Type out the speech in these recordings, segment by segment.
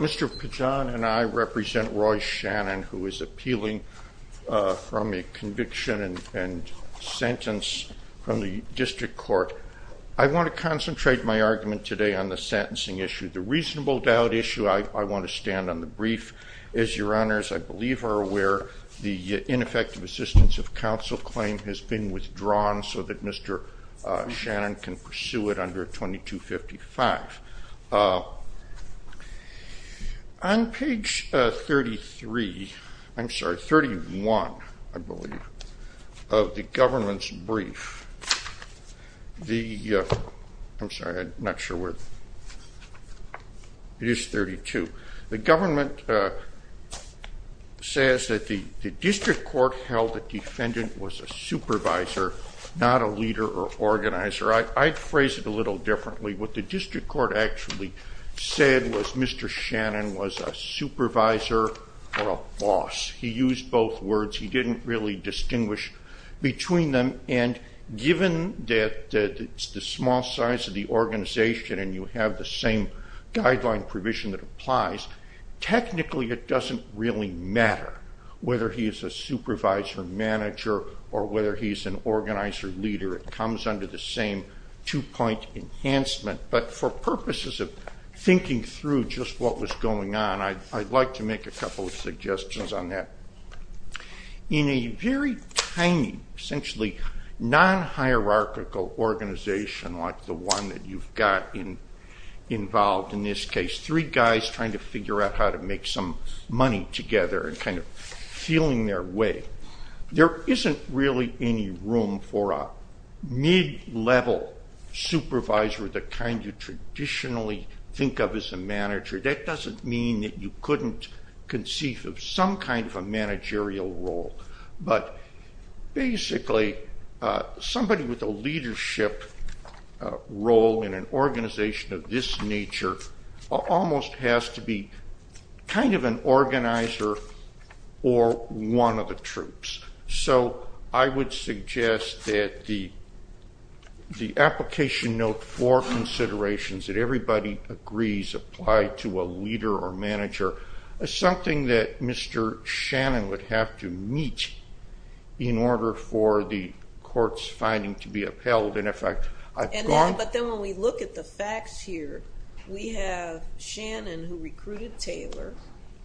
Mr. Pajon and I represent Roy Shannon, who is appealing from a conviction and sentence from the District Court. I want to concentrate my argument today on the sentencing issue. The reasonable doubt issue, I want to stand on the brief, is, Your Honors, I believe are where the ineffective assistance of counsel claim has been withdrawn so that Mr. Shannon can pursue it under 2255. On page 33, I'm sorry, 31, I believe, of the government's brief, the, I'm sorry, I'm not sure where, it is 32. The government says that the District Court held the defendant was a supervisor, not a leader or organizer. I'd phrase it a little differently. What the District Court actually said was Mr. Shannon was a supervisor or a boss. He used both words. He didn't really distinguish between them. And given that it's the small size of the organization and you have the same guideline provision that applies, technically it doesn't really matter whether he's a supervisor, manager, or whether he's an organizer, leader. It comes under the same two-point enhancement. But for purposes of thinking through just what was going on, I'd like to make a couple of suggestions on that. In a very tiny, essentially non-hierarchical organization like the one that you've got involved in this case, three guys trying to figure out how to make some money together and kind of feeling their way, there isn't really any room for a mid-level supervisor the kind you traditionally think of as a manager. That doesn't mean that you couldn't conceive of some kind of a managerial role. But basically, somebody with a leadership role in an organization of this nature almost has to be kind of an organizer or one of the troops. So I would suggest that the application note for considerations that everybody agrees apply to a leader or manager. Something that Mr. Shannon would have to meet in order for the court's finding to be upheld. But then when we look at the facts here, we have Shannon who recruited Taylor,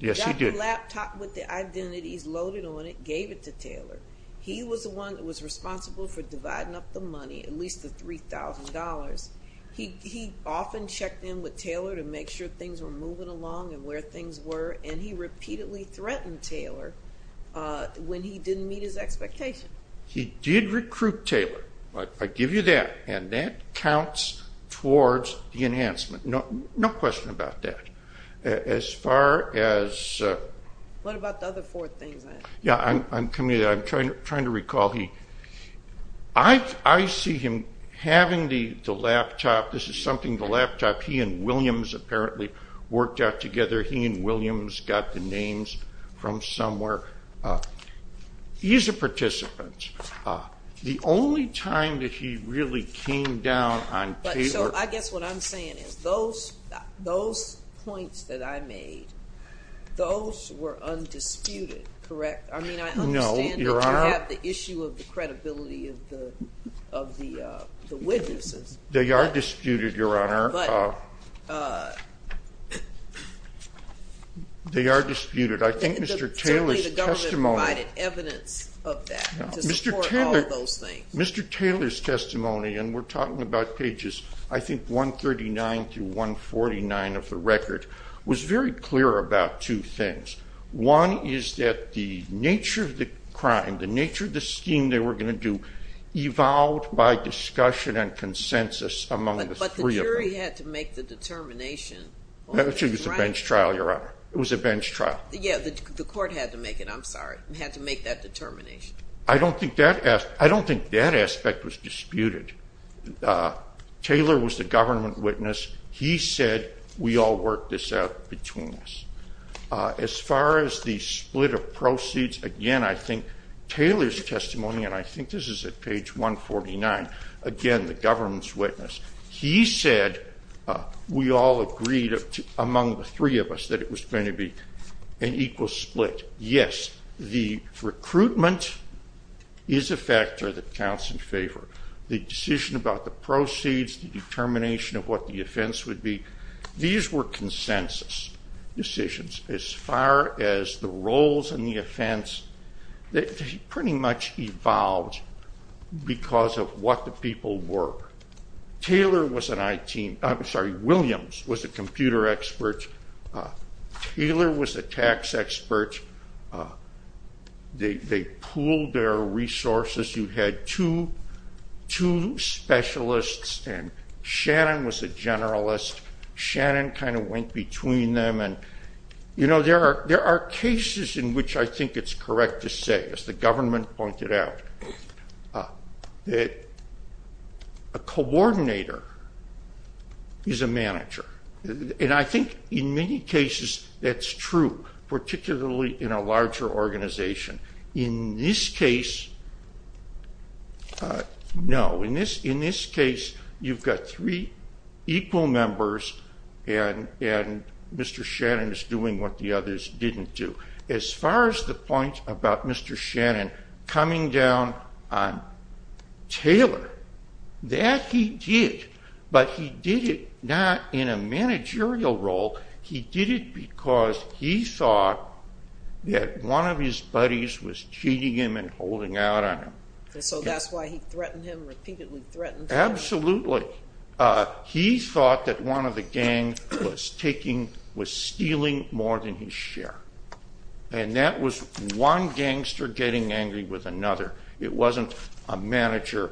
got the laptop with the identities loaded on it, gave it to Taylor. He was the one that was responsible for dividing up the money, at least the $3,000. He often checked in with Taylor to make sure things were moving along and where things were, and he repeatedly threatened Taylor when he didn't meet his expectation. He did recruit Taylor, I give you that, and that counts towards the enhancement. No question about that. As far as... What about the other four things? I'm trying to recall. I see him having the laptop, this is something the laptop, he and Williams apparently worked out together. He and Williams got the names from somewhere. He's a participant. The only time that he really came down on Taylor... I guess what I'm saying is those points that I made, those were undisputed, correct? No, Your Honor. You have the issue of the credibility of the witnesses. They are disputed, Your Honor. They are disputed. I think Mr. Taylor's testimony... Certainly the government provided evidence of that to support all of those things. Mr. Taylor's testimony, and we're talking about pages I think 139 through 149 of the record, was very clear about two things. One is that the nature of the crime, the nature of the scheme they were going to do, evolved by discussion and consensus among the three of them. But the jury had to make the determination. Actually, it was a bench trial, Your Honor. It was a bench trial. Yeah, the court had to make it, I'm sorry, had to make that determination. I don't think that aspect was disputed. Taylor was the government witness. He said, we all worked this out between us. As far as the split of proceeds, again, I think Taylor's testimony, and I think this is at page 149, again, the government's witness, he said we all agreed among the three of us that it was going to be an equal split. Yes, the recruitment is a factor that counts in favor. The decision about the proceeds, the determination of what the offense would be, these were consensus decisions. As far as the roles and the offense, they pretty much evolved because of what the people were. Taylor was an IT, I'm sorry, Williams was a computer expert. Taylor was a tax expert. They pooled their resources. You had two specialists, and Shannon was a generalist. Shannon kind of went between them. There are cases in which I think it's correct to say, as the government pointed out, that a coordinator is a manager. I think in many cases that's true, particularly in a larger organization. In this case, no. In this case, you've got three equal members, and Mr. Shannon is doing what the others didn't do. As far as the point about Mr. Shannon coming down on Taylor, that he did, but he did it not in a managerial role. He did it because he thought that one of his buddies was cheating him and holding out on him. So that's why he threatened him, repeatedly threatened him. Absolutely. He thought that one of the gangs was stealing more than his share, and that was one gangster getting angry with another. It wasn't a manager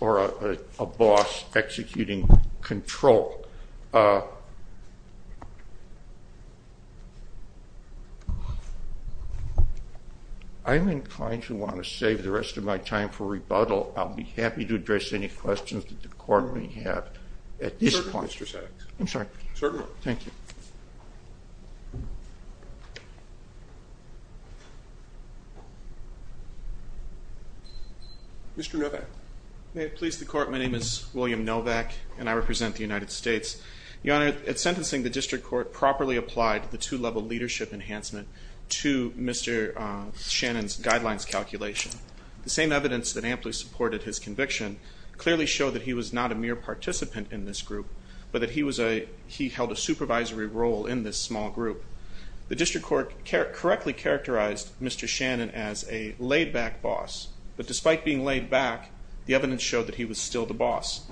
or a boss executing control. I'm inclined to want to save the rest of my time for rebuttal. I'll be happy to address any questions that the court may have at this point. Certainly, Mr. Sacks. I'm sorry. Certainly. Thank you. Mr. Novak. May it please the Court, my name is William Novak, and I represent the United States. Your Honor, in sentencing, the District Court properly applied the two-level leadership enhancement to Mr. Shannon's guidelines calculation. The same evidence that amply supported his conviction clearly showed that he was not a mere participant in this group, but that he held a supervisory role in this small group. The District Court correctly characterized Mr. Shannon as a laid-back boss, but despite being laid-back, the evidence showed that he was still the boss.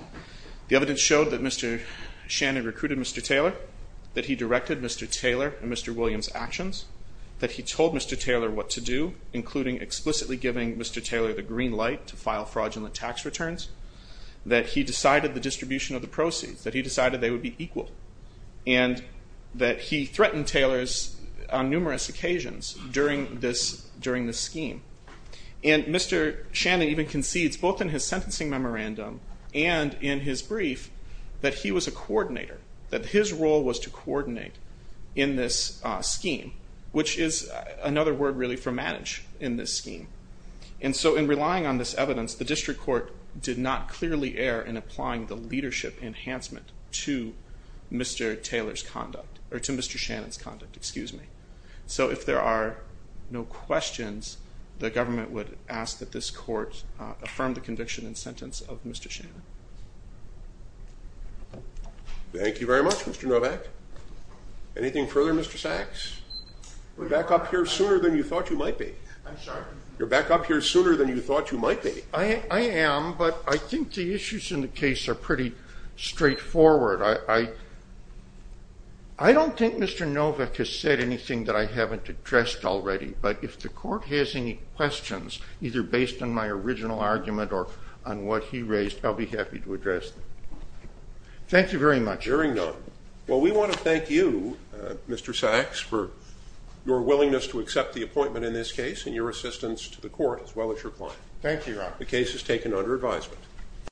The evidence showed that Mr. Shannon recruited Mr. Taylor, that he directed Mr. Taylor and Mr. Williams' actions, that he told Mr. Taylor what to do, including explicitly giving Mr. returns, that he decided the distribution of the proceeds, that he decided they would be equal, and that he threatened Taylor's numerous occasions during this scheme. Mr. Shannon even concedes, both in his sentencing memorandum and in his brief, that he was a coordinator, that his role was to coordinate in this scheme, which is another word really for manage in this scheme. And so in relying on this evidence, the District Court did not clearly err in applying the leadership enhancement to Mr. Taylor's conduct, or to Mr. Shannon's conduct, excuse me. So if there are no questions, the government would ask that this court affirm the conviction and sentence of Mr. Shannon. Thank you very much, Mr. Novak. Anything further, Mr. Sachs? We're back up here sooner than you thought you might be. I'm sorry? You're back up here sooner than you thought you might be. I am, but I think the issues in the case are pretty straightforward. I don't think Mr. Novak has said anything that I haven't addressed already, but if the court has any questions, either based on my original argument or on what he raised, I'll be happy to address them. Thank you very much. Hearing none, well we want to thank you, Mr. Sachs, for your willingness to accept the case and your assistance to the court as well as your client. Thank you, Your Honor. The case is taken under advisement.